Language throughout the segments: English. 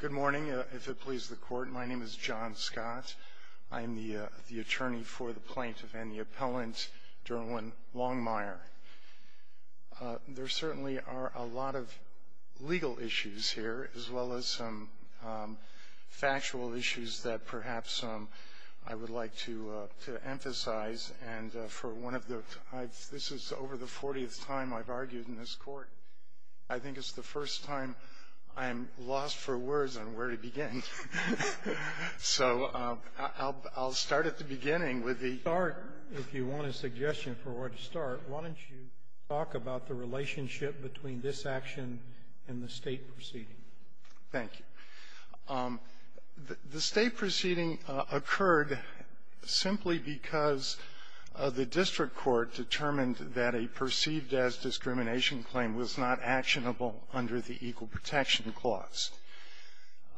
Good morning. If it pleases the court, my name is John Scott. I am the attorney for the plaintiff and the appellant, Derwin Longmire. There certainly are a lot of legal issues here, as well as some factual issues that perhaps I would like to emphasize. And for one of the — this is over the 40th time I've argued in this court. I think it's the first time I'm lost for words on where to begin. So I'll start at the beginning with the — If you want a suggestion for where to start, why don't you talk about the relationship between this action and the State proceeding. Thank you. The State proceeding occurred simply because the district court determined that a perceived-as discrimination claim was not actionable under the Equal Protection Clause.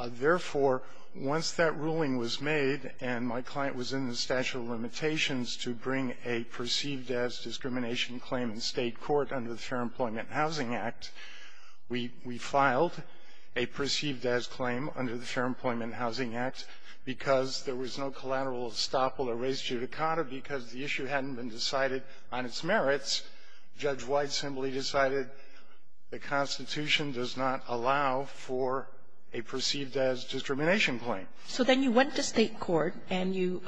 Therefore, once that ruling was made and my client was in the statute of limitations to bring a perceived-as discrimination claim in State court under the Fair Employment and Housing Act, we filed a perceived-as claim under the Fair Employment and Housing Act because there was no collateral estoppel or res judicata because the issue hadn't been decided on its merits. Judge White simply decided the Constitution does not allow for a perceived-as discrimination claim. So then you went to State court and you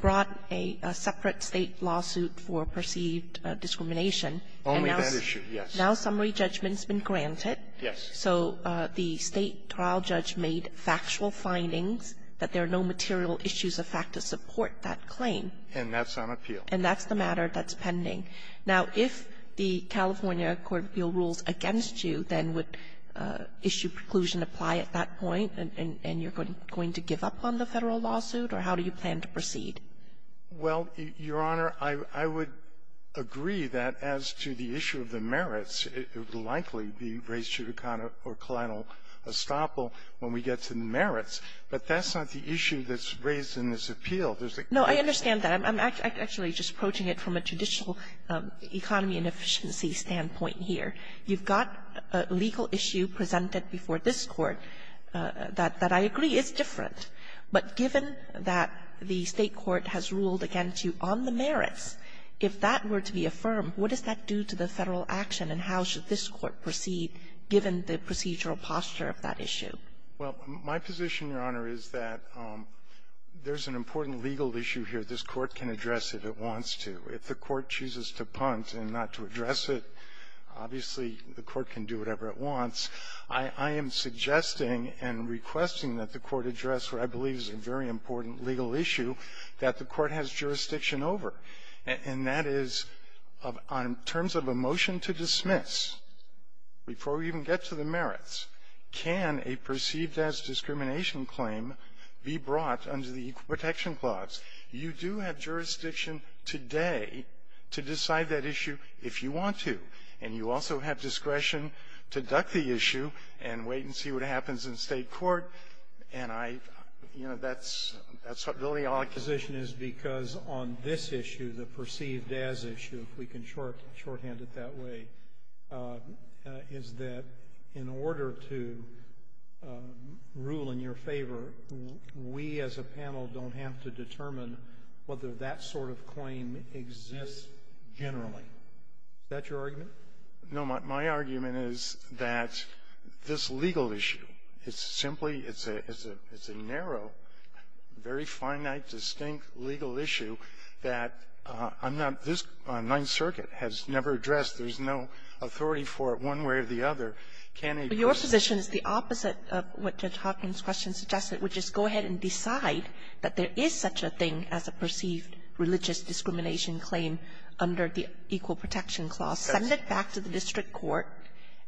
brought a separate State lawsuit for perceived-as discrimination. Only that issue, yes. Now summary judgment's been granted. Yes. So the State trial judge made factual findings that there are no material issues of fact to support that claim. And that's on appeal. And that's the matter that's pending. Now, if the California Court of Appeal rules against you, then would issue preclusion apply at that point, and you're going to give up on the Federal lawsuit? Or how do you plan to proceed? Well, Your Honor, I would agree that as to the issue of the merits, it would likely be res judicata or collateral estoppel when we get to the merits. But that's not the issue that's raised in this appeal. There's a question of the merits. No, I understand that. I'm actually just approaching it from a traditional economy and efficiency standpoint here. You've got a legal issue presented before this Court that I agree is different. But given that the State court has ruled against you on the merits, if that were to be affirmed, what does that do to the Federal action, and how should this Court proceed given the procedural posture of that issue? Well, my position, Your Honor, is that there's an important legal issue here this Court can address if it wants to. If the Court chooses to punt and not to address it, obviously, the Court can do whatever it wants. I am suggesting and requesting that the Court address what I believe is a very important legal issue that the Court has jurisdiction over, and that is, in terms of a motion to dismiss, before we even get to the merits, can a person with a perceived-as discrimination claim be brought under the Equal Protection Clause? You do have jurisdiction today to decide that issue if you want to. And you also have discretion to duck the issue and wait and see what happens in State court, and I, you know, that's really all I can say. My position is because on this issue, the perceived-as issue, if we can shorthand it that way, is that in order to rule in your favor, we as a panel don't have to determine whether that sort of claim exists generally. Is that your argument? No. My argument is that this legal issue, it's simply, it's a narrow, very finite, distinct legal issue that I'm not this Ninth Circuit has never addressed. There's no authority for it one way or the other. Can a person ---- Your position is the opposite of what Judge Hopkins' question suggested, which is go ahead and decide that there is such a thing as a perceived-religious-discrimination claim under the Equal Protection Clause, send it back to the district court,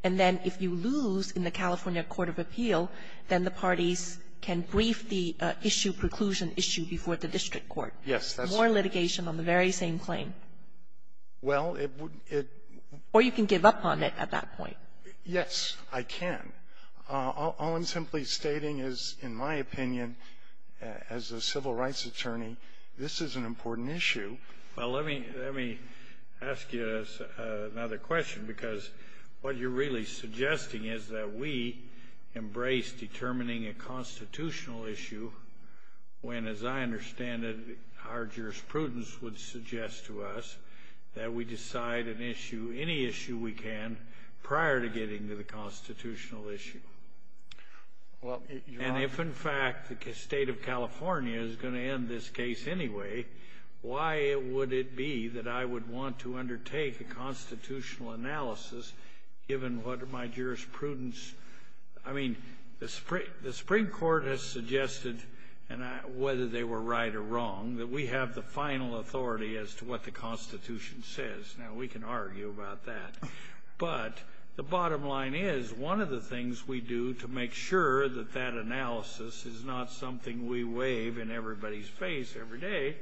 and then if you lose in the California court of appeal, then the parties can brief the issue, preclusion issue, before the district court. Yes. More litigation on the very same claim. Well, it would be ---- Or you can give up on it at that point. Yes, I can. All I'm simply stating is, in my opinion, as a civil rights attorney, this is an important issue. Well, let me ask you another question, because what you're really suggesting is that we embrace determining a constitutional issue when, as I understand it, our jurisprudence would suggest to us that we decide an issue, any issue we can, prior to getting to the constitutional issue. Well, you're not ---- And if, in fact, the state of California is going to end this case anyway, why would it be that I would want to undertake a constitutional analysis, given what my jurisprudence ---- I mean, the Supreme Court has suggested, whether they were right or wrong, that we have the final authority as to what the Constitution says. Now, we can argue about that. But the bottom line is, one of the things we do to make sure that that analysis is not something we wave in everybody's face every day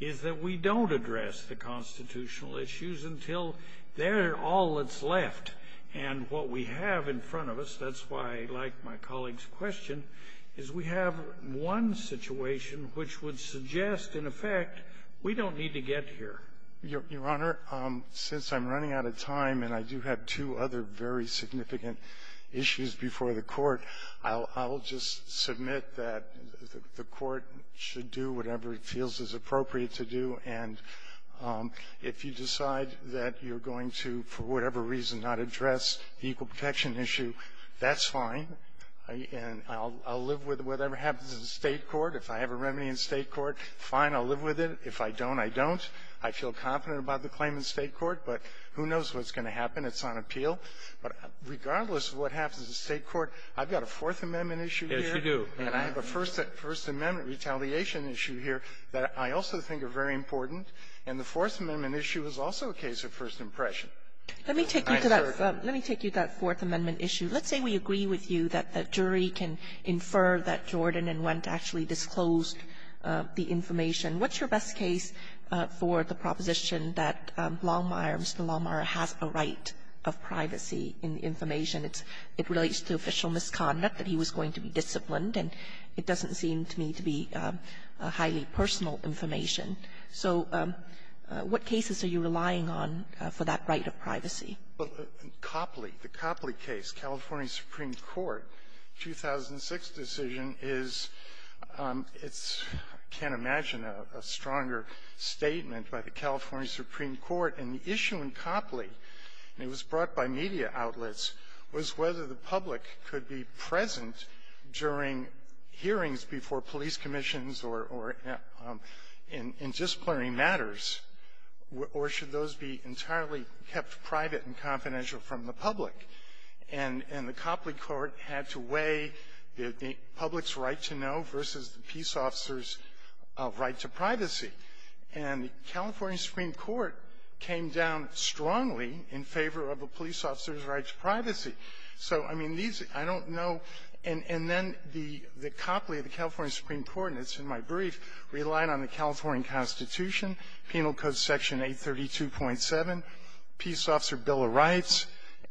is that we don't address the constitutional issues until they're all that's left. And what we have in front of us, that's why I like my colleague's question, is we have one situation which would suggest, in effect, we don't need to get here. Your Honor, since I'm running out of time, and I do have two other very significant issues before the Court, I'll just submit that the Court should do whatever it feels is appropriate to do, and if you decide that you're going to, for whatever reason, not address the equal protection issue, that's fine. And I'll live with whatever happens in the State court. If I have a remedy in State court, fine, I'll live with it. If I don't, I don't. I feel confident about the claim in State court, but who knows what's going to happen. It's on appeal. But regardless of what happens in State court, I've got a Fourth Amendment issue here. Roberts. And I have a First Amendment retaliation issue here that I also think are very important. And the Fourth Amendment issue is also a case of first impression. Let me take you to that Fourth Amendment issue. Let's say we agree with you that the jury can infer that Jordan and Wendt actually disclosed the information. What's your best case for the proposition that Longmire, Mr. Longmire, has a right of privacy in the information? It relates to official misconduct, that he was going to be disciplined, and it doesn't seem to me to be highly personal information. So what cases are you relying on for that right of privacy? Copley. The Copley case, California Supreme Court, 2006 decision is its can't imagine a stronger statement by the California Supreme Court. And the issue in Copley, and it was brought by media outlets, was whether the public could be present during hearings before police commissions or in disciplinary matters, or should those be entirely kept private and confidential from the public. And the Copley court had to weigh the public's right to know versus the peace officer's right to privacy. And the California Supreme Court came down strongly in favor of a police officer's right to privacy. So, I mean, these, I don't know, and then the Copley, the California Supreme Court, and it's in my brief, relied on the California Constitution, Penal Code Section 832.7, Peace Officer Bill of Rights,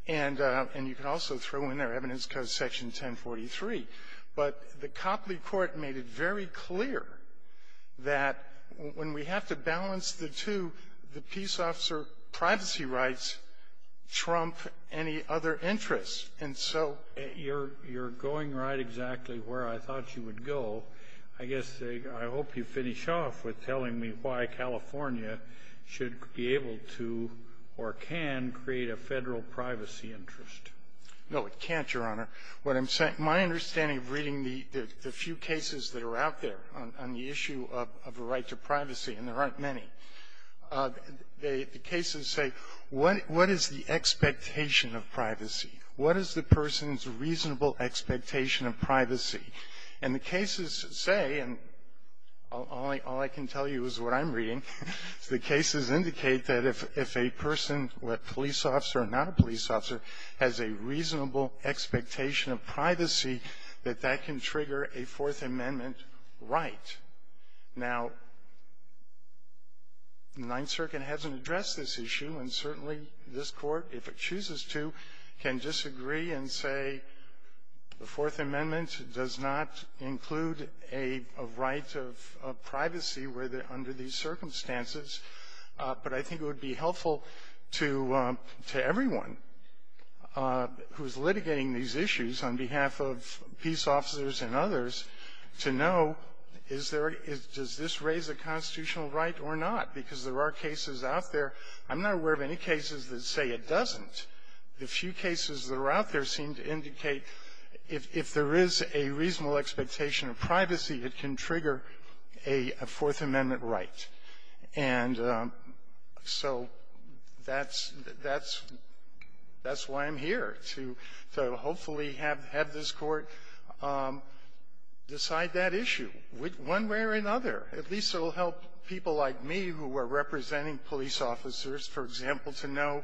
and you can also throw in there Evidence Code Section 1043. But the Copley court made it very clear that when we have to balance the two, the And so you're going right exactly where I thought you would go. I guess I hope you finish off with telling me why California should be able to or can create a federal privacy interest. No, it can't, Your Honor. What I'm saying, my understanding of reading the few cases that are out there on the issue of a right to privacy, and there aren't many, the cases say, what is the expectation of privacy? What is the person's reasonable expectation of privacy? And the cases say, and all I can tell you is what I'm reading, the cases indicate that if a person, a police officer or not a police officer, has a reasonable expectation of privacy, that that can trigger a Fourth Amendment right. Now, the Ninth Circuit hasn't addressed this issue, and certainly this Court, if it chooses to, can disagree and say the Fourth Amendment does not include a right of privacy under these circumstances. But I think it would be helpful to everyone who's litigating these issues on behalf of peace officers and others to know, does this raise a constitutional right or not? Because there are cases out there. I'm not aware of any cases that say it doesn't. The few cases that are out there seem to indicate if there is a reasonable expectation of privacy, it can trigger a Fourth Amendment right. And so that's why I'm here, to hopefully have this Court decide that issue one way or another. At least it will help people like me who are representing police officers, for example, to know,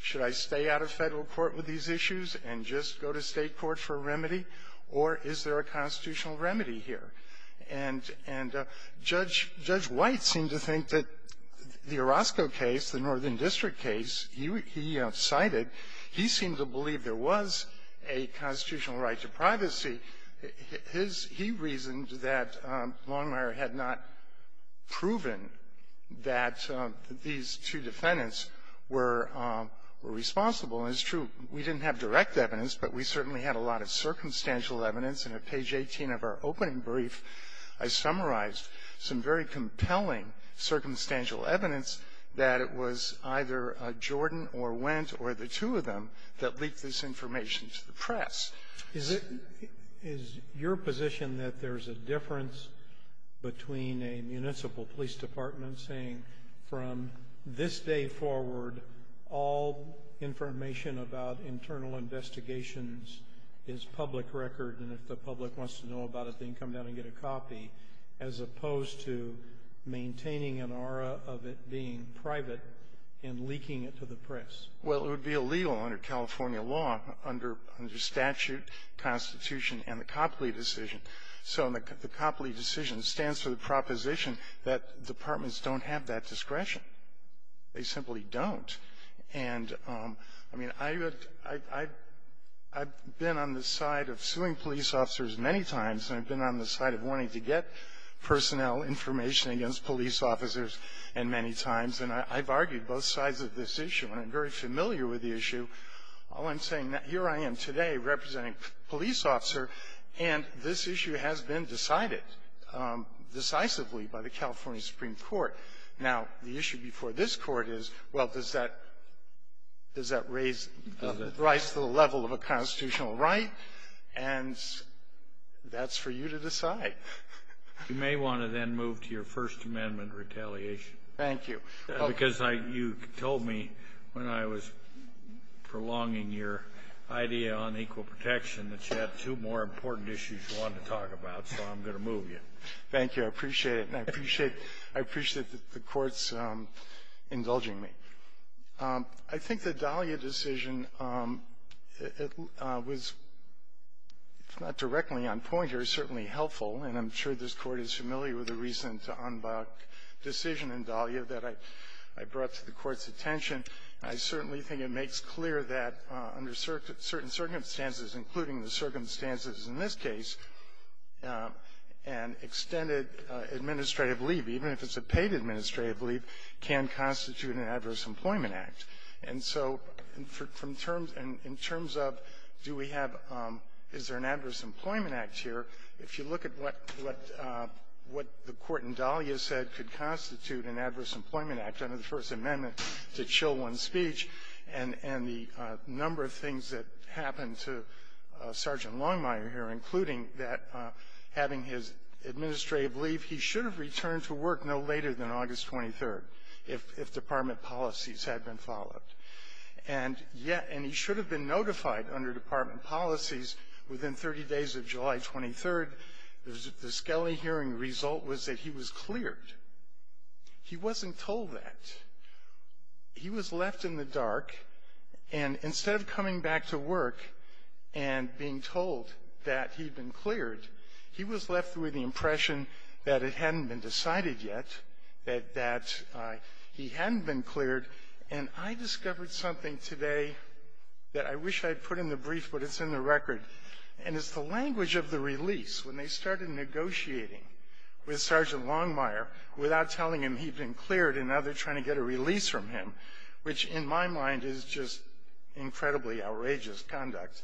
should I stay out of Federal court with these issues and just go to State court for a remedy, or is there a constitutional remedy here? And Judge White seemed to think that the Orozco case, the Northern District case, he cited, he seemed to believe there was a constitutional right to privacy. He reasoned that Longmire had not proven that these two defendants were responsible. And it's true, we didn't have direct evidence, but we certainly had a lot of circumstantial evidence, and at page 18 of our opening brief, I summarized some very compelling circumstantial evidence that it was either Jordan or Wendt or the two of them that leaked this information to the press. Is it your position that there's a difference between a municipal police department saying, from this day forward, all information about internal investigations is public record, and if the public wants to know about it, they can come down and get a copy, as opposed to maintaining an aura of it being private and leaking it to the press? Well, it would be illegal under California law, under statute, constitution, and the Copley decision. So the Copley decision stands for the proposition that departments don't have that discretion. They simply don't. And, I mean, I've been on the side of suing police officers many times, and I've been on the side of wanting to get personnel information against police officers and many times, and I've argued both sides of this issue, and I'm very familiar with the issue. All I'm saying, here I am today representing a police officer, and this issue has been decided decisively by the California Supreme Court. Now, the issue before this Court is, well, does that raise the level of a constitutional right? And that's for you to decide. You may want to then move to your First Amendment retaliation. Thank you. Because I you told me when I was prolonging your idea on equal protection that you had two more important issues you wanted to talk about, so I'm going to move you. Thank you. I appreciate it. And I appreciate the Court's indulging me. I think the Dahlia decision was, if not directly on point, it was certainly helpful and I'm sure this Court is familiar with the reason to unblock decision in Dahlia that I brought to the Court's attention. I certainly think it makes clear that under certain circumstances, including the circumstances in this case, an extended administrative leave, even if it's a paid administrative leave, can constitute an Adverse Employment Act. And so in terms of do we have, is there an Adverse Employment Act here, if you look at what the Court in Dahlia said could constitute an Adverse Employment Act under the First Amendment to chill one's speech and the number of things that happened to Sergeant Longmire here, including that having his administrative leave, he should have returned to work no later than August 23rd if department policies had been followed. And yet, and he should have been notified under department policies within 30 days of the Skelly hearing result was that he was cleared. He wasn't told that. He was left in the dark and instead of coming back to work and being told that he'd been cleared, he was left with the impression that it hadn't been decided yet, that he hadn't been cleared. And I discovered something today that I wish I'd put in the brief, but it's in the negotiating with Sergeant Longmire without telling him he'd been cleared and now they're trying to get a release from him, which in my mind is just incredibly outrageous conduct.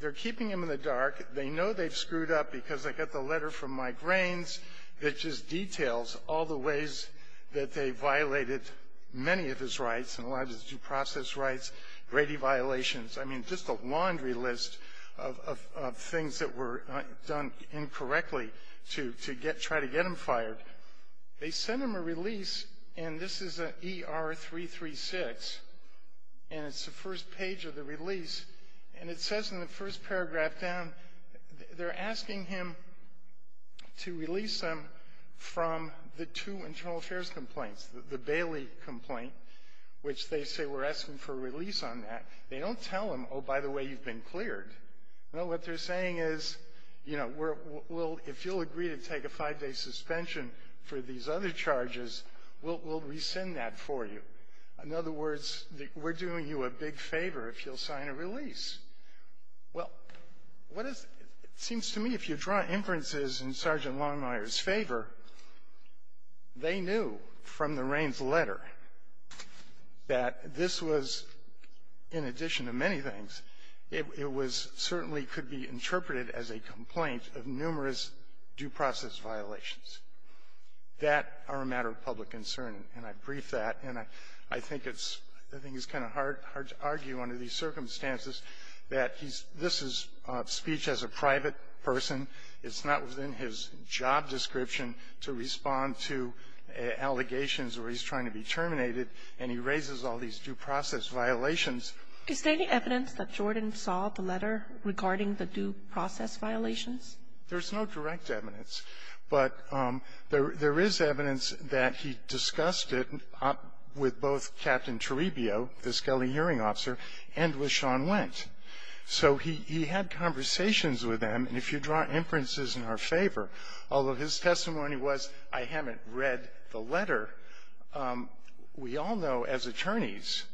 They're keeping him in the dark. They know they've screwed up because they got the letter from Mike Rains that just details all the ways that they violated many of his rights and a lot of his due process rights, grady violations. I mean, just a laundry list of things that were done incorrectly to get, try to get him fired. They sent him a release and this is an ER-336 and it's the first page of the release. And it says in the first paragraph down, they're asking him to release him from the two internal affairs complaints, the Bailey complaint, which they say we're asking for a release on that. They don't tell him, oh, by the way, you've been cleared. No, what they're saying is, you know, we'll, if you'll agree to take a five-day suspension for these other charges, we'll, we'll rescind that for you. In other words, we're doing you a big favor if you'll sign a release. Well, what is, it seems to me if you draw inferences in Sergeant Longmire's favor, they knew from the Raines letter that this was, in addition to many things, it was certainly could be interpreted as a complaint of numerous due process violations. That are a matter of public concern and I brief that and I, I think it's, I think it's kind of hard, hard to argue under these circumstances that he's, this is speech as a private person. It's not within his job description to respond to allegations where he's trying to be terminated and he raises all these due process violations. Is there any evidence that Jordan saw the letter regarding the due process violations? There's no direct evidence. But there, there is evidence that he discussed it with both Captain Toribio, the skelly hearing officer, and with Sean Wendt. So he, he had conversations with them and if you draw inferences in our favor, although his testimony was, I haven't read the letter, we all know as attorneys,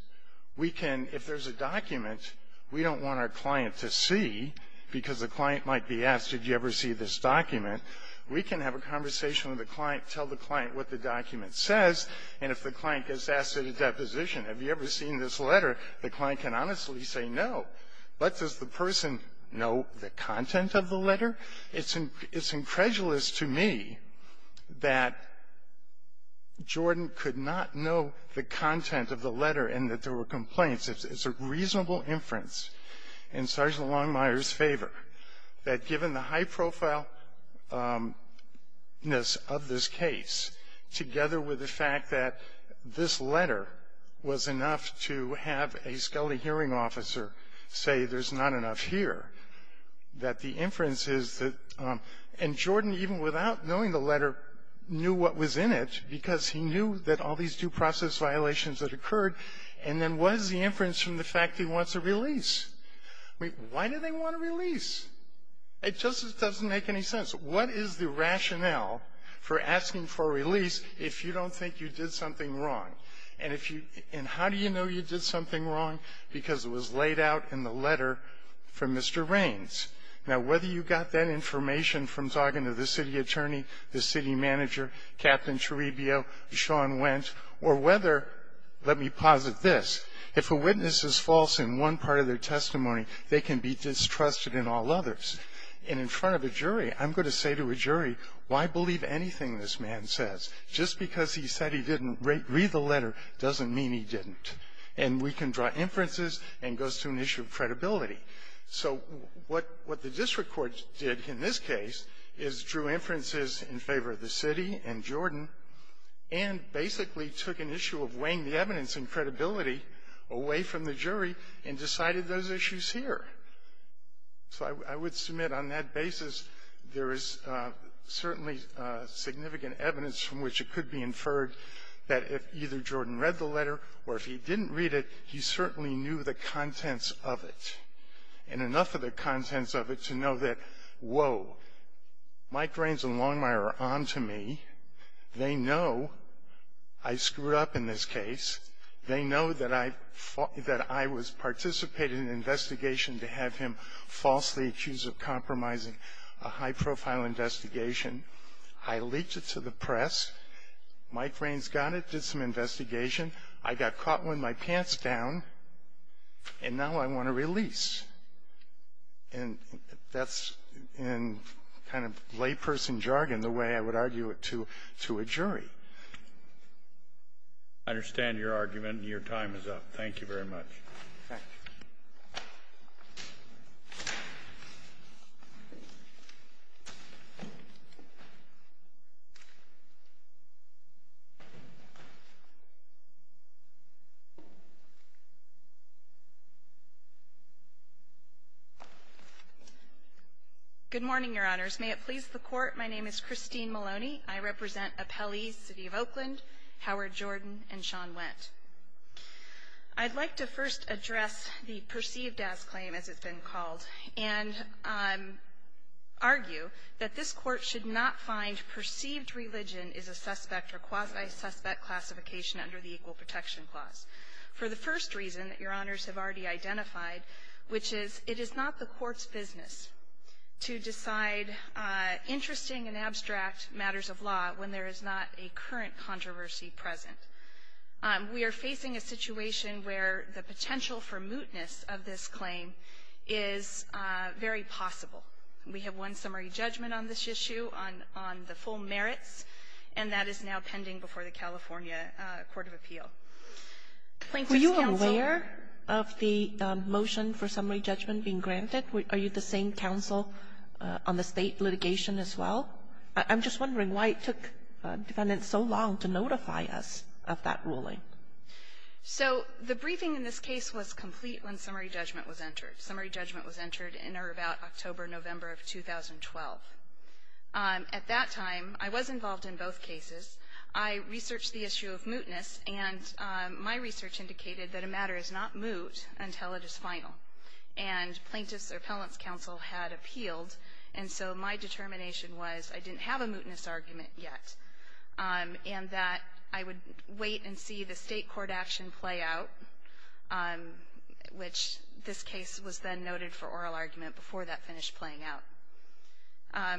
we can, if there's a document we don't want our client to see because the client might be asked, did you ever see this document? We can have a conversation with the client, tell the client what the document says and if the client gets asked at a deposition, have you ever seen this letter? The client can honestly say no. But does the person know the content of the letter? It's incredulous to me that Jordan could not know the content of the letter and that there were complaints. It's a reasonable inference in Sergeant Longmire's favor that given the high-profile effectiveness of this case, together with the fact that this letter was enough to have a skelly hearing officer say there's not enough here, that the inference is that, and Jordan, even without knowing the letter, knew what was in it because he knew that all these due process violations that occurred, and then what is the inference from the fact he wants a release? Why do they want a release? It just doesn't make any sense. What is the rationale for asking for a release if you don't think you did something wrong? And how do you know you did something wrong? Because it was laid out in the letter from Mr. Raines. Now, whether you got that information from talking to the city attorney, the city manager, Captain Cherebio, Sean Wentz, or whether, let me posit this, if a witness is false in one part of their testimony, they can be distrusted in all others. And in front of a jury, I'm going to say to a jury, why believe anything this man says? Just because he said he didn't read the letter doesn't mean he didn't. And we can draw inferences and it goes to an issue of credibility. So what the district court did in this case is drew inferences in favor of the city and Jordan and basically took an issue of weighing the evidence and credibility away from the jury and decided those issues here. So I would submit on that basis there is certainly significant evidence from which it could be inferred that if either Jordan read the letter or if he didn't read it, he certainly knew the contents of it. And enough of the contents of it to know that, whoa, Mike Raines and Longmire are on to me. They know I screwed up in this case. They know that I was participating in an investigation to have him falsely accused of compromising a high-profile investigation. I leaked it to the press. Mike Raines got it, did some investigation. I got caught with my pants down, and now I want to release. And that's in kind of layperson jargon the way I would argue it to a jury. I understand your argument. Your time is up. Thank you very much. Thank you. Good morning, Your Honors. May it please the Court, my name is Christine Maloney. I represent Appellees City of Oakland, Howard Jordan, and Sean Wendt. I'd like to first address the perceived-as claim, as it's been called, and argue that this Court should not find perceived religion is a suspect or quasi-suspect classification under the Equal Protection Clause for the first reason that Your Honors have already identified, which is it is not the Court's business to decide interesting and abstract matters of law when there is not a current controversy present. We are facing a situation where the potential for mootness of this claim is very possible. We have one summary judgment on this issue on the full merits, and that is now pending before the California Court of Appeal. Were you aware of the motion for summary judgment being granted? Are you the same counsel on the state litigation as well? I'm just wondering why it took defendants so long to notify us of that ruling. So the briefing in this case was complete when summary judgment was entered. Summary judgment was entered in or about October, November of 2012. At that time, I was involved in both cases. I researched the issue of mootness, and my research indicated that a matter is not moot until it is final. And plaintiff's or appellant's counsel had appealed, and so my determination was I didn't have a mootness argument yet, and that I would wait and see the state court action play out, which this case was then noted for oral argument before that finished playing out.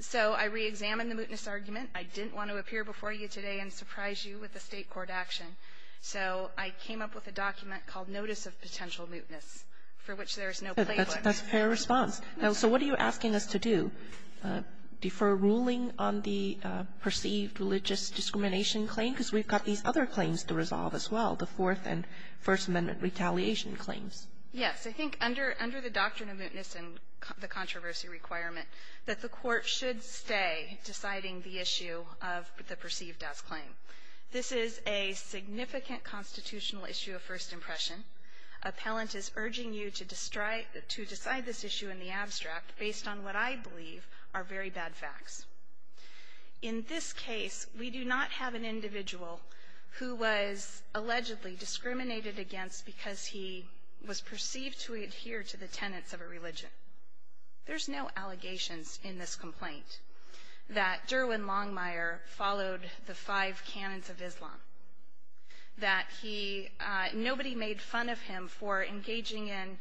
So I reexamined the mootness argument. I didn't want to appear before you today and surprise you with a state court action. So I came up with a document called Notice of Potential Mootness, for which there is no playbook. That's a fair response. So what are you asking us to do? Defer ruling on the perceived religious discrimination claim? Because we've got these other claims to resolve as well, the Fourth and First Amendment retaliation claims. Yes. I think under the doctrine of mootness and the controversy requirement, that the court should stay deciding the issue of the perceived as claim. This is a significant constitutional issue of first impression. Appellant is urging you to decide this issue in the abstract based on what I believe are very bad facts. In this case, we do not have an individual who was allegedly discriminated against because he was perceived to adhere to the tenets of a religion. There's no allegations in this complaint that Derwin Longmire followed the five canons of Islam. That nobody made fun of him for engaging in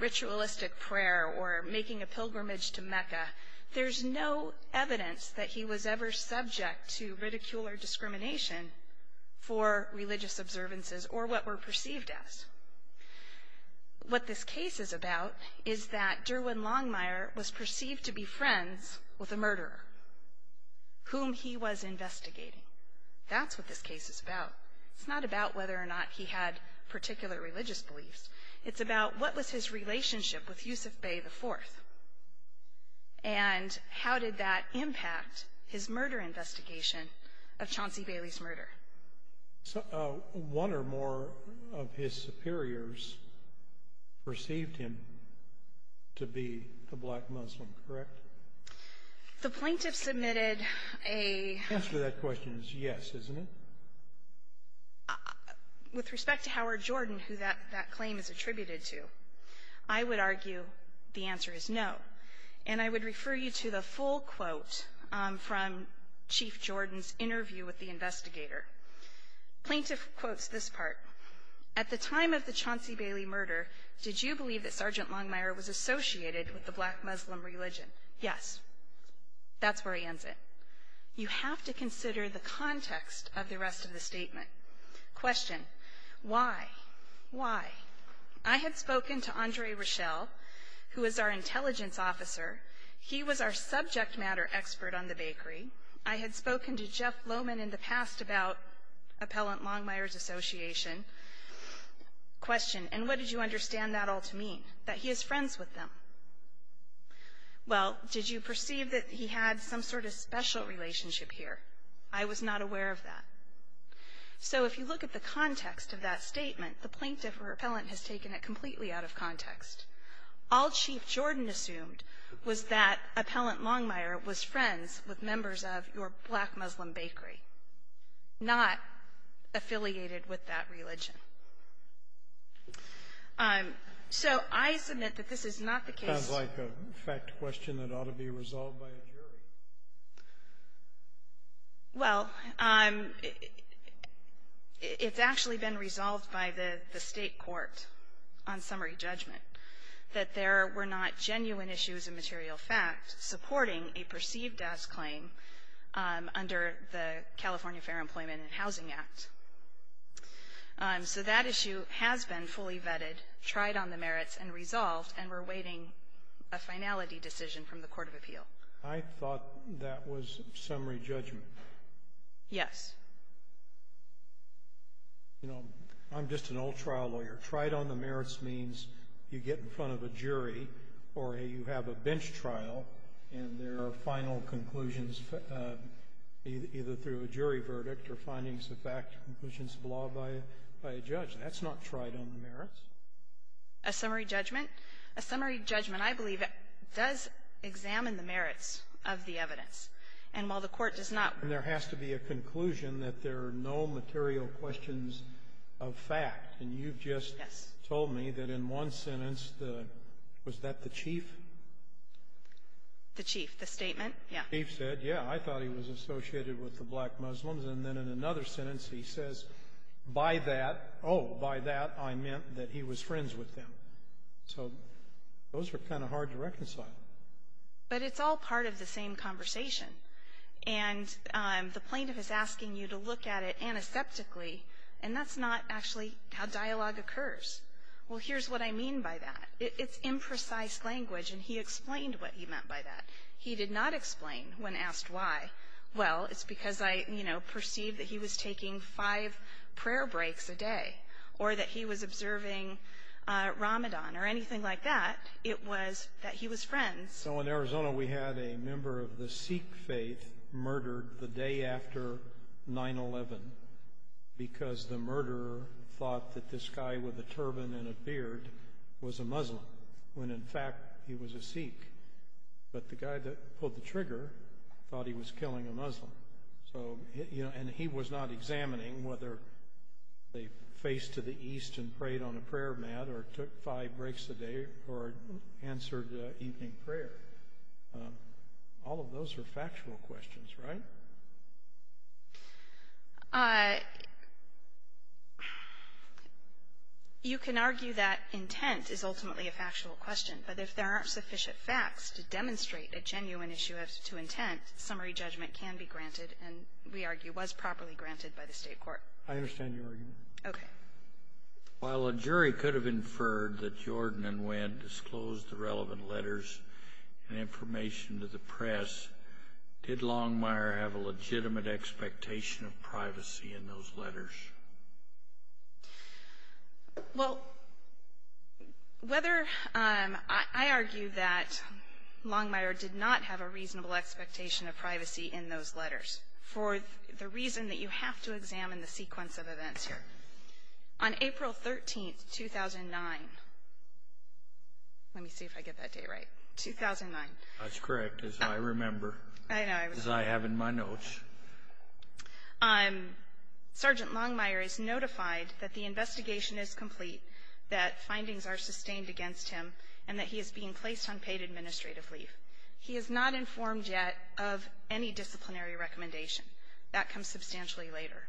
ritualistic prayer or making a pilgrimage to Mecca. There's no evidence that he was ever subject to ridicule or discrimination for religious observances or what were perceived as. What this case is about is that Derwin Longmire was perceived to be friends with a murderer whom he was investigating. That's what this case is about. It's not about whether or not he had particular religious beliefs. It's about what was his relationship with Yusuf Bey IV. And how did that impact his murder investigation of Chauncey Bailey's murder? One or more of his superiors perceived him to be a black Muslim, correct? The plaintiff submitted a. The answer to that question is yes, isn't it? With respect to Howard Jordan, who that claim is attributed to, I would argue the answer is no. And I would refer you to the full quote from Chief Jordan's interview with the investigator. Plaintiff quotes this part. At the time of the Chauncey Bailey murder, did you believe that Sergeant Longmire was associated with the black Muslim religion? Yes. That's where he ends it. You have to consider the context of the rest of the statement. Question. Why? Why? I had spoken to Andre Rochelle, who is our intelligence officer. He was our subject matter expert on the bakery. I had spoken to Jeff Lowman in the past about Appellant Longmire's association. Question. And what did you understand that all to mean, that he is friends with them? Well, did you perceive that he had some sort of special relationship here? I was not aware of that. So if you look at the context of that statement, the plaintiff or appellant has taken it completely out of context. All Chief Jordan assumed was that Appellant Longmire was friends with members of your black Muslim bakery, not affiliated with that religion. So I submit that this is not the case. It sounds like a fact question that ought to be resolved by a jury. Well, it's actually been resolved by the State court on summary judgment that there were not genuine issues of material fact supporting a perceived-as claim under the California Fair Employment and Housing Act. So that issue has been fully vetted, tried on the merits, and resolved, and we're awaiting a finality decision from the court of appeal. I thought that was summary judgment. Yes. You know, I'm just an old trial lawyer. Tried on the merits means you get in front of a jury or you have a bench trial, and there are final conclusions either through a jury verdict or findings of fact, conclusions of law by a judge. That's not tried on the merits. A summary judgment? A summary judgment, I believe, does examine the merits of the evidence. And while the court does not ---- And there has to be a conclusion that there are no material questions of fact. And you've just told me that in one sentence the ---- was that the chief? The chief. The statement, yes. The chief said, yes, I thought he was associated with the black Muslims. And then in another sentence he says, by that, oh, by that, I meant that he was friends with them. So those were kind of hard to reconcile. But it's all part of the same conversation. And the plaintiff is asking you to look at it antiseptically, and that's not actually how dialogue occurs. Well, here's what I mean by that. It's imprecise language, and he explained what he meant by that. He did not explain when asked why. Well, it's because I, you know, perceived that he was taking five prayer breaks a day or that he was observing Ramadan or anything like that. It was that he was friends. So in Arizona we had a member of the Sikh faith murdered the day after 9-11 because the murderer thought that this guy with a turban and a beard was a Muslim, when in fact he was a Sikh. But the guy that pulled the trigger thought he was killing a Muslim. So, you know, and he was not examining whether they faced to the east and prayed on a prayer mat or took five breaks a day or answered evening prayer. All of those are factual questions, right? You can argue that intent is ultimately a factual question, but if there aren't sufficient facts to demonstrate a genuine issue as to intent, summary judgment can be granted and, we argue, was properly granted by the State court. I understand your argument. Okay. While a jury could have inferred that Jordan and Wendt disclosed the relevant letters and information to the press, did Longmire have a legitimate expectation of privacy in those letters? Well, whether — I argue that Longmire did not have a reasonable expectation of privacy in those letters for the reason that you have to examine the sequence of events here. On April 13th, 2009 — let me see if I get that date right — 2009. That's correct, as I remember. As I have in my notes. Sergeant Longmire is notified that the investigation is complete, that findings are sustained against him, and that he is being placed on paid administrative leave. He is not informed yet of any disciplinary recommendation. That comes substantially later.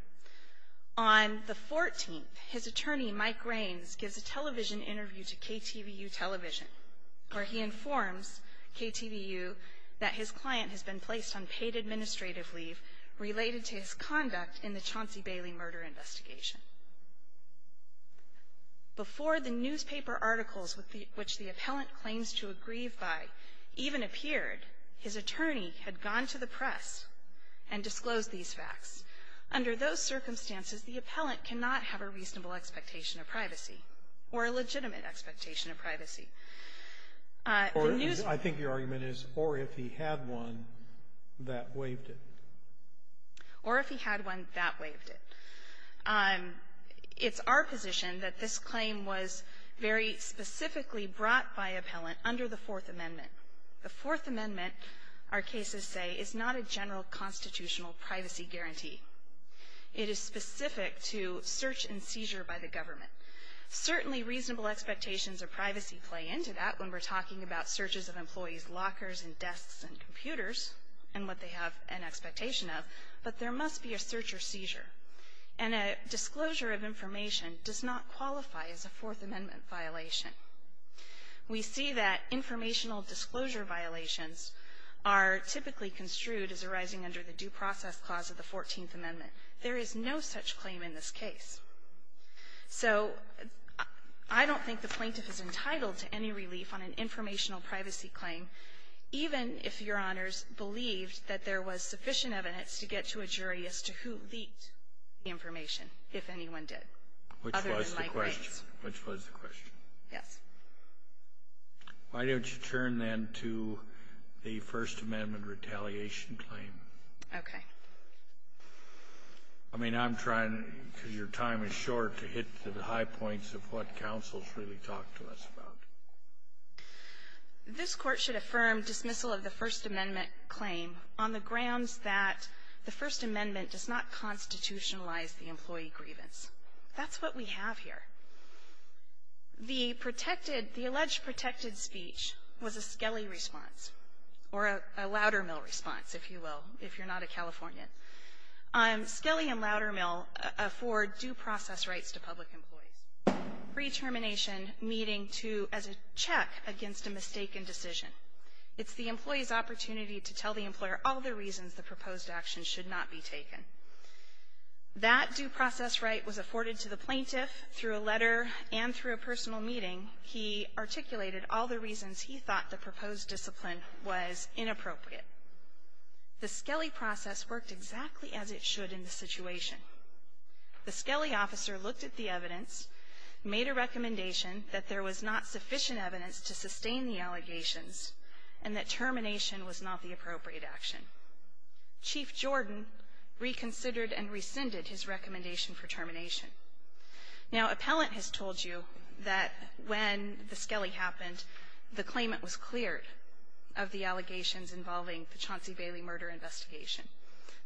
On the 14th, his attorney, Mike Raines, gives a television interview to KTVU Television where he informs KTVU that his client has been placed on paid administrative leave related to his conduct in the Chauncey Bailey murder investigation. Before the newspaper articles which the appellant claims to have grieved by even appeared, his attorney had gone to the press and disclosed these facts. Under those circumstances, the appellant cannot have a reasonable expectation of privacy or a legitimate expectation of privacy. I think your argument is, or if he had one, that waived it. Or if he had one, that waived it. It's our position that this claim was very specifically brought by appellant under the Fourth Amendment. The Fourth Amendment, our cases say, is not a general constitutional privacy guarantee. It is specific to search and seizure by the government. Certainly, reasonable expectations of privacy play into that when we're talking about searches of employees' lockers and desks and computers and what they have an expectation of. But there must be a search or seizure. And a disclosure of information does not qualify as a Fourth Amendment violation. We see that informational disclosure violations are typically construed as arising under the Due Process Clause of the Fourteenth Amendment. There is no such claim in this case. So I don't think the plaintiff is entitled to any relief on an informational privacy claim, even if Your Honors believed that there was sufficient evidence to get to a jury as to who leaked the information, if anyone did, other than Mike Bates. Kennedy, which was the question. Yes. Why don't you turn, then, to the First Amendment retaliation claim? Okay. I mean, I'm trying, because your time is short, to hit the high points of what counsel has really talked to us about. This Court should affirm dismissal of the First Amendment claim on the grounds that the First Amendment does not constitutionalize the employee grievance. That's what we have here. The protected the alleged protected speech was a Skelly response, or a Loudermill response, if you will, if you're not a Californian. Skelly and Loudermill afford due process rights to public employees, pre-termination meeting to as a check against a mistaken decision. It's the employee's opportunity to tell the employer all the reasons the proposed action should not be taken. That due process right was afforded to the plaintiff through a letter and through a personal meeting. He articulated all the reasons he thought the proposed discipline was inappropriate. The Skelly process worked exactly as it should in the situation. The Skelly officer looked at the evidence, made a recommendation that there was not sufficient evidence to sustain the allegations, and that termination was not the appropriate action. Chief Jordan reconsidered and rescinded his recommendation for termination. Now, appellant has told you that when the Skelly happened, the claimant was cleared of the allegations involving the Chauncey Bailey murder investigation.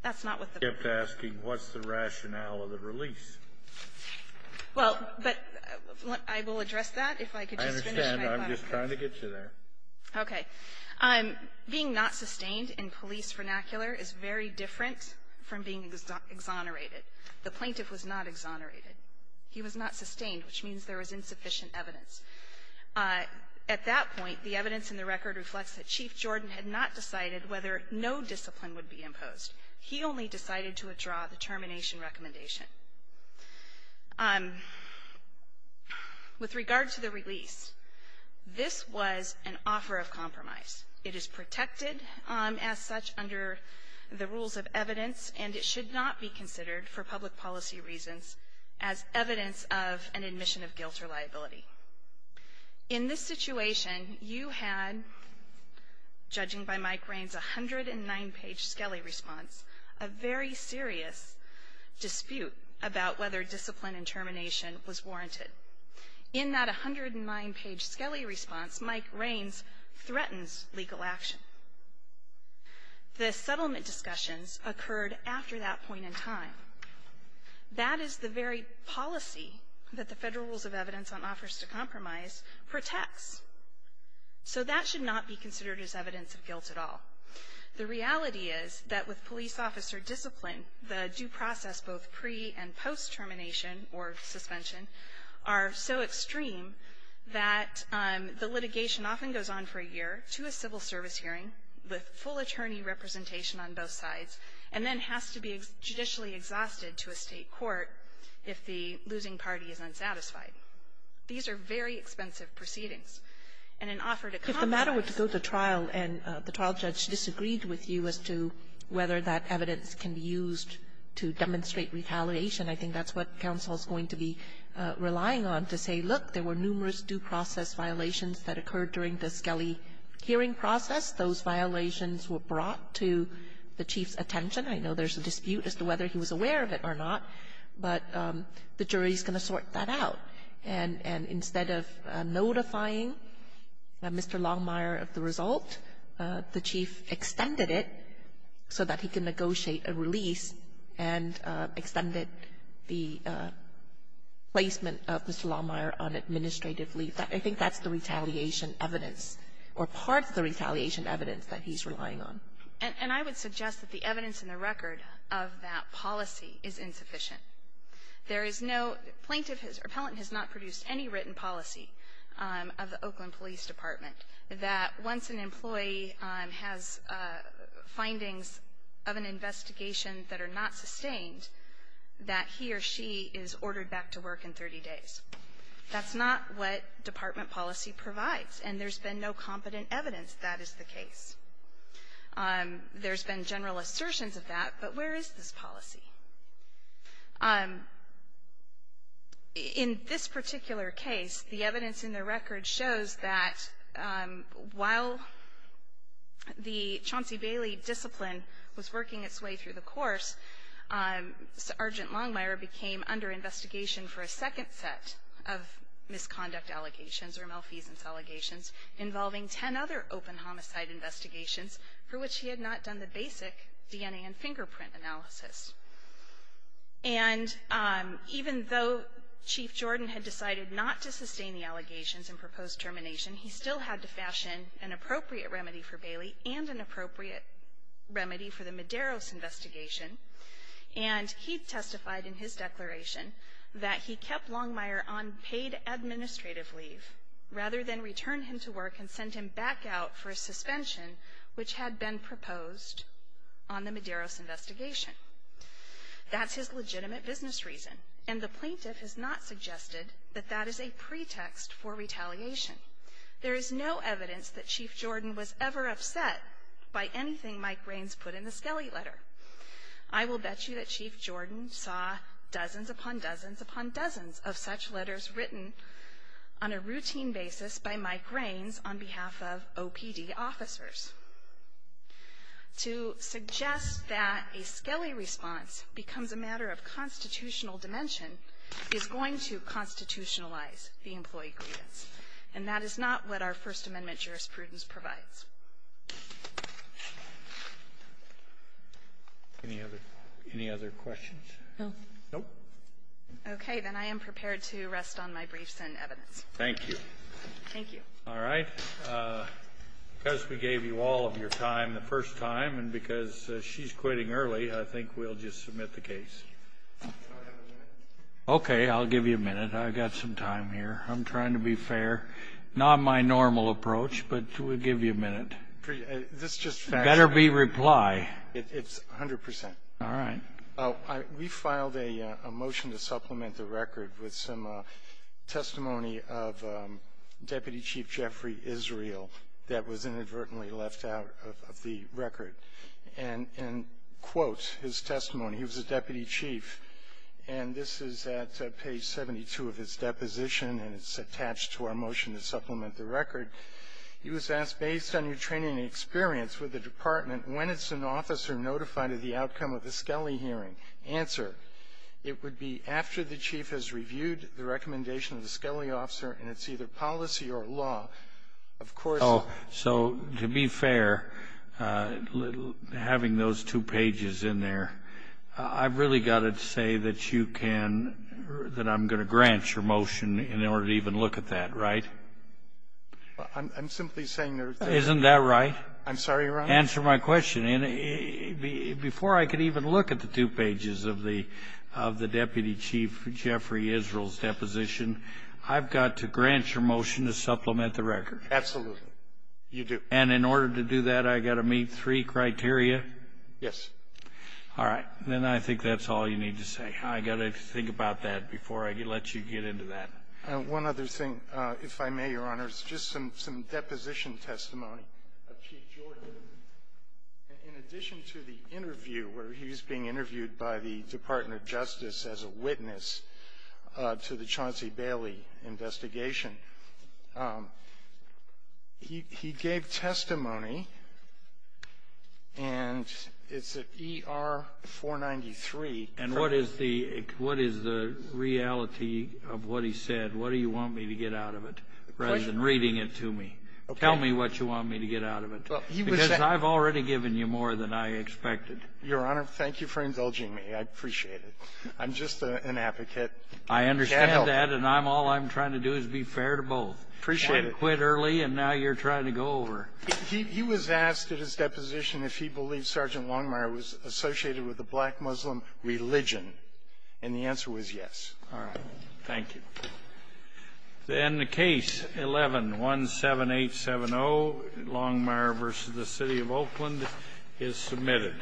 That's not what the plaintiff said. Kennedy, I kept asking, what's the rationale of the release? Well, but I will address that if I could just finish my thought on that. I understand. I'm just trying to get you there. Okay. Being not sustained in police vernacular is very different from being exonerated. The plaintiff was not exonerated. He was not sustained, which means there was insufficient evidence. At that point, the evidence in the record reflects that Chief Jordan had not decided whether no discipline would be imposed. He only decided to withdraw the termination recommendation. With regard to the release, this was an offer of compromise. It is protected as such under the rules of evidence, and it should not be considered for public policy reasons as evidence of an admission of guilt or liability. In this situation, you had, judging by Mike Rains' 109-page Skelly response, a very serious dispute about whether discipline and termination was warranted. In that 109-page Skelly response, Mike Rains threatens legal action. The settlement discussions occurred after that point in time. That is the very policy that the Federal Rules of Evidence on Offers to Compromise protects. So that should not be considered as evidence of guilt at all. The reality is that with police officer discipline, the due process both pre- and post-trial is so extreme that the litigation often goes on for a year, to a civil service hearing, with full attorney representation on both sides, and then has to be judicially exhausted to a State court if the losing party is unsatisfied. These are very expensive proceedings. And an offer to compromise ---- Kagan. If the matter were to go to trial and the trial judge disagreed with you as to whether that evidence can be used to demonstrate retaliation, I think that's what counsel is going to be relying on to say, look, there were numerous due process violations that occurred during the Skelly hearing process. Those violations were brought to the Chief's attention. I know there's a dispute as to whether he was aware of it or not, but the jury is going to sort that out. And instead of notifying Mr. Longmire of the result, the Chief extended it so that he can negotiate a release, and extended the placement of Mr. Longmire on administrative leave. I think that's the retaliation evidence or part of the retaliation evidence that he's relying on. And I would suggest that the evidence in the record of that policy is insufficient. There is no plaintiff or appellant has not produced any written policy of the Oakland Police Department that once an employee has findings of an investigation that are not sustained, that he or she is ordered back to work in 30 days. That's not what department policy provides, and there's been no competent evidence that that is the case. There's been general assertions of that, but where is this policy? In this particular case, the evidence in the record shows that while the Chauncey Bailey discipline was working its way through the course, Sergeant Longmire became under investigation for a second set of misconduct allegations or malfeasance allegations involving ten other open homicide investigations for which he had not done the basic DNA and fingerprint analysis. And even though Chief Jordan had decided not to sustain the allegations in proposed termination, he still had to fashion an appropriate remedy for Bailey and an appropriate remedy for the Medeiros investigation, and he testified in his declaration that he kept Longmire on paid administrative leave rather than return him to work and send him back out for a suspension which had been proposed on the Medeiros investigation. That's his legitimate business reason, and the plaintiff has not suggested that that is a pretext for retaliation. There is no evidence that Chief Jordan was ever upset by anything Mike Raines put in the Skelly letter. I will bet you that Chief Jordan saw dozens upon dozens upon dozens of such letters written on a routine basis by Mike Raines' OPD officers. To suggest that a Skelly response becomes a matter of constitutional dimension is going to constitutionalize the employee grievance, and that is not what our First Amendment jurisprudence provides. Any other questions? No. No. Okay. Then I am prepared to rest on my briefs and evidence. Thank you. Thank you. All right. Because we gave you all of your time the first time and because she's quitting early, I think we'll just submit the case. Okay. I'll give you a minute. I've got some time here. I'm trying to be fair. Not my normal approach, but we'll give you a minute. This just facts. Better be reply. It's 100 percent. All right. We filed a motion to supplement the record with some testimony of Deputy Chief Jeffrey Israel that was inadvertently left out of the record. And quote his testimony. He was a deputy chief, and this is at page 72 of his deposition, and it's attached to our motion to supplement the record. He was asked, based on your training and experience with the department, when is an officer notified of the outcome of the Skelly hearing? Answer. It would be after the chief has reviewed the recommendation of the Skelly officer, and it's either policy or law. Of course. So to be fair, having those two pages in there, I've really got to say that you can or that I'm going to grant your motion in order to even look at that. Right? Isn't that right? I'm sorry, Your Honor. Answer my question. Before I can even look at the two pages of the Deputy Chief Jeffrey Israel's deposition, I've got to grant your motion to supplement the record. Absolutely. You do. And in order to do that, I've got to meet three criteria? Yes. All right. Then I think that's all you need to say. I've got to think about that before I let you get into that. One other thing, if I may, Your Honor, is just some deposition testimony of Chief Jordan. In addition to the interview where he was being interviewed by the Department of Justice as a witness to the Chauncey Bailey investigation, he gave testimony, and it's at ER 493. And what is the reality of what he said? What do you want me to get out of it rather than reading it to me? Okay. Tell me what you want me to get out of it. Because I've already given you more than I expected. Your Honor, thank you for indulging me. I appreciate it. I'm just an advocate. I understand that, and all I'm trying to do is be fair to both. Appreciate it. You had to quit early, and now you're trying to go over. He was asked at his deposition if he believed Sergeant Longmire was associated with a black Muslim religion. And the answer was yes. All right. Thank you. Then Case 11-17870, Longmire v. The City of Oakland, is submitted.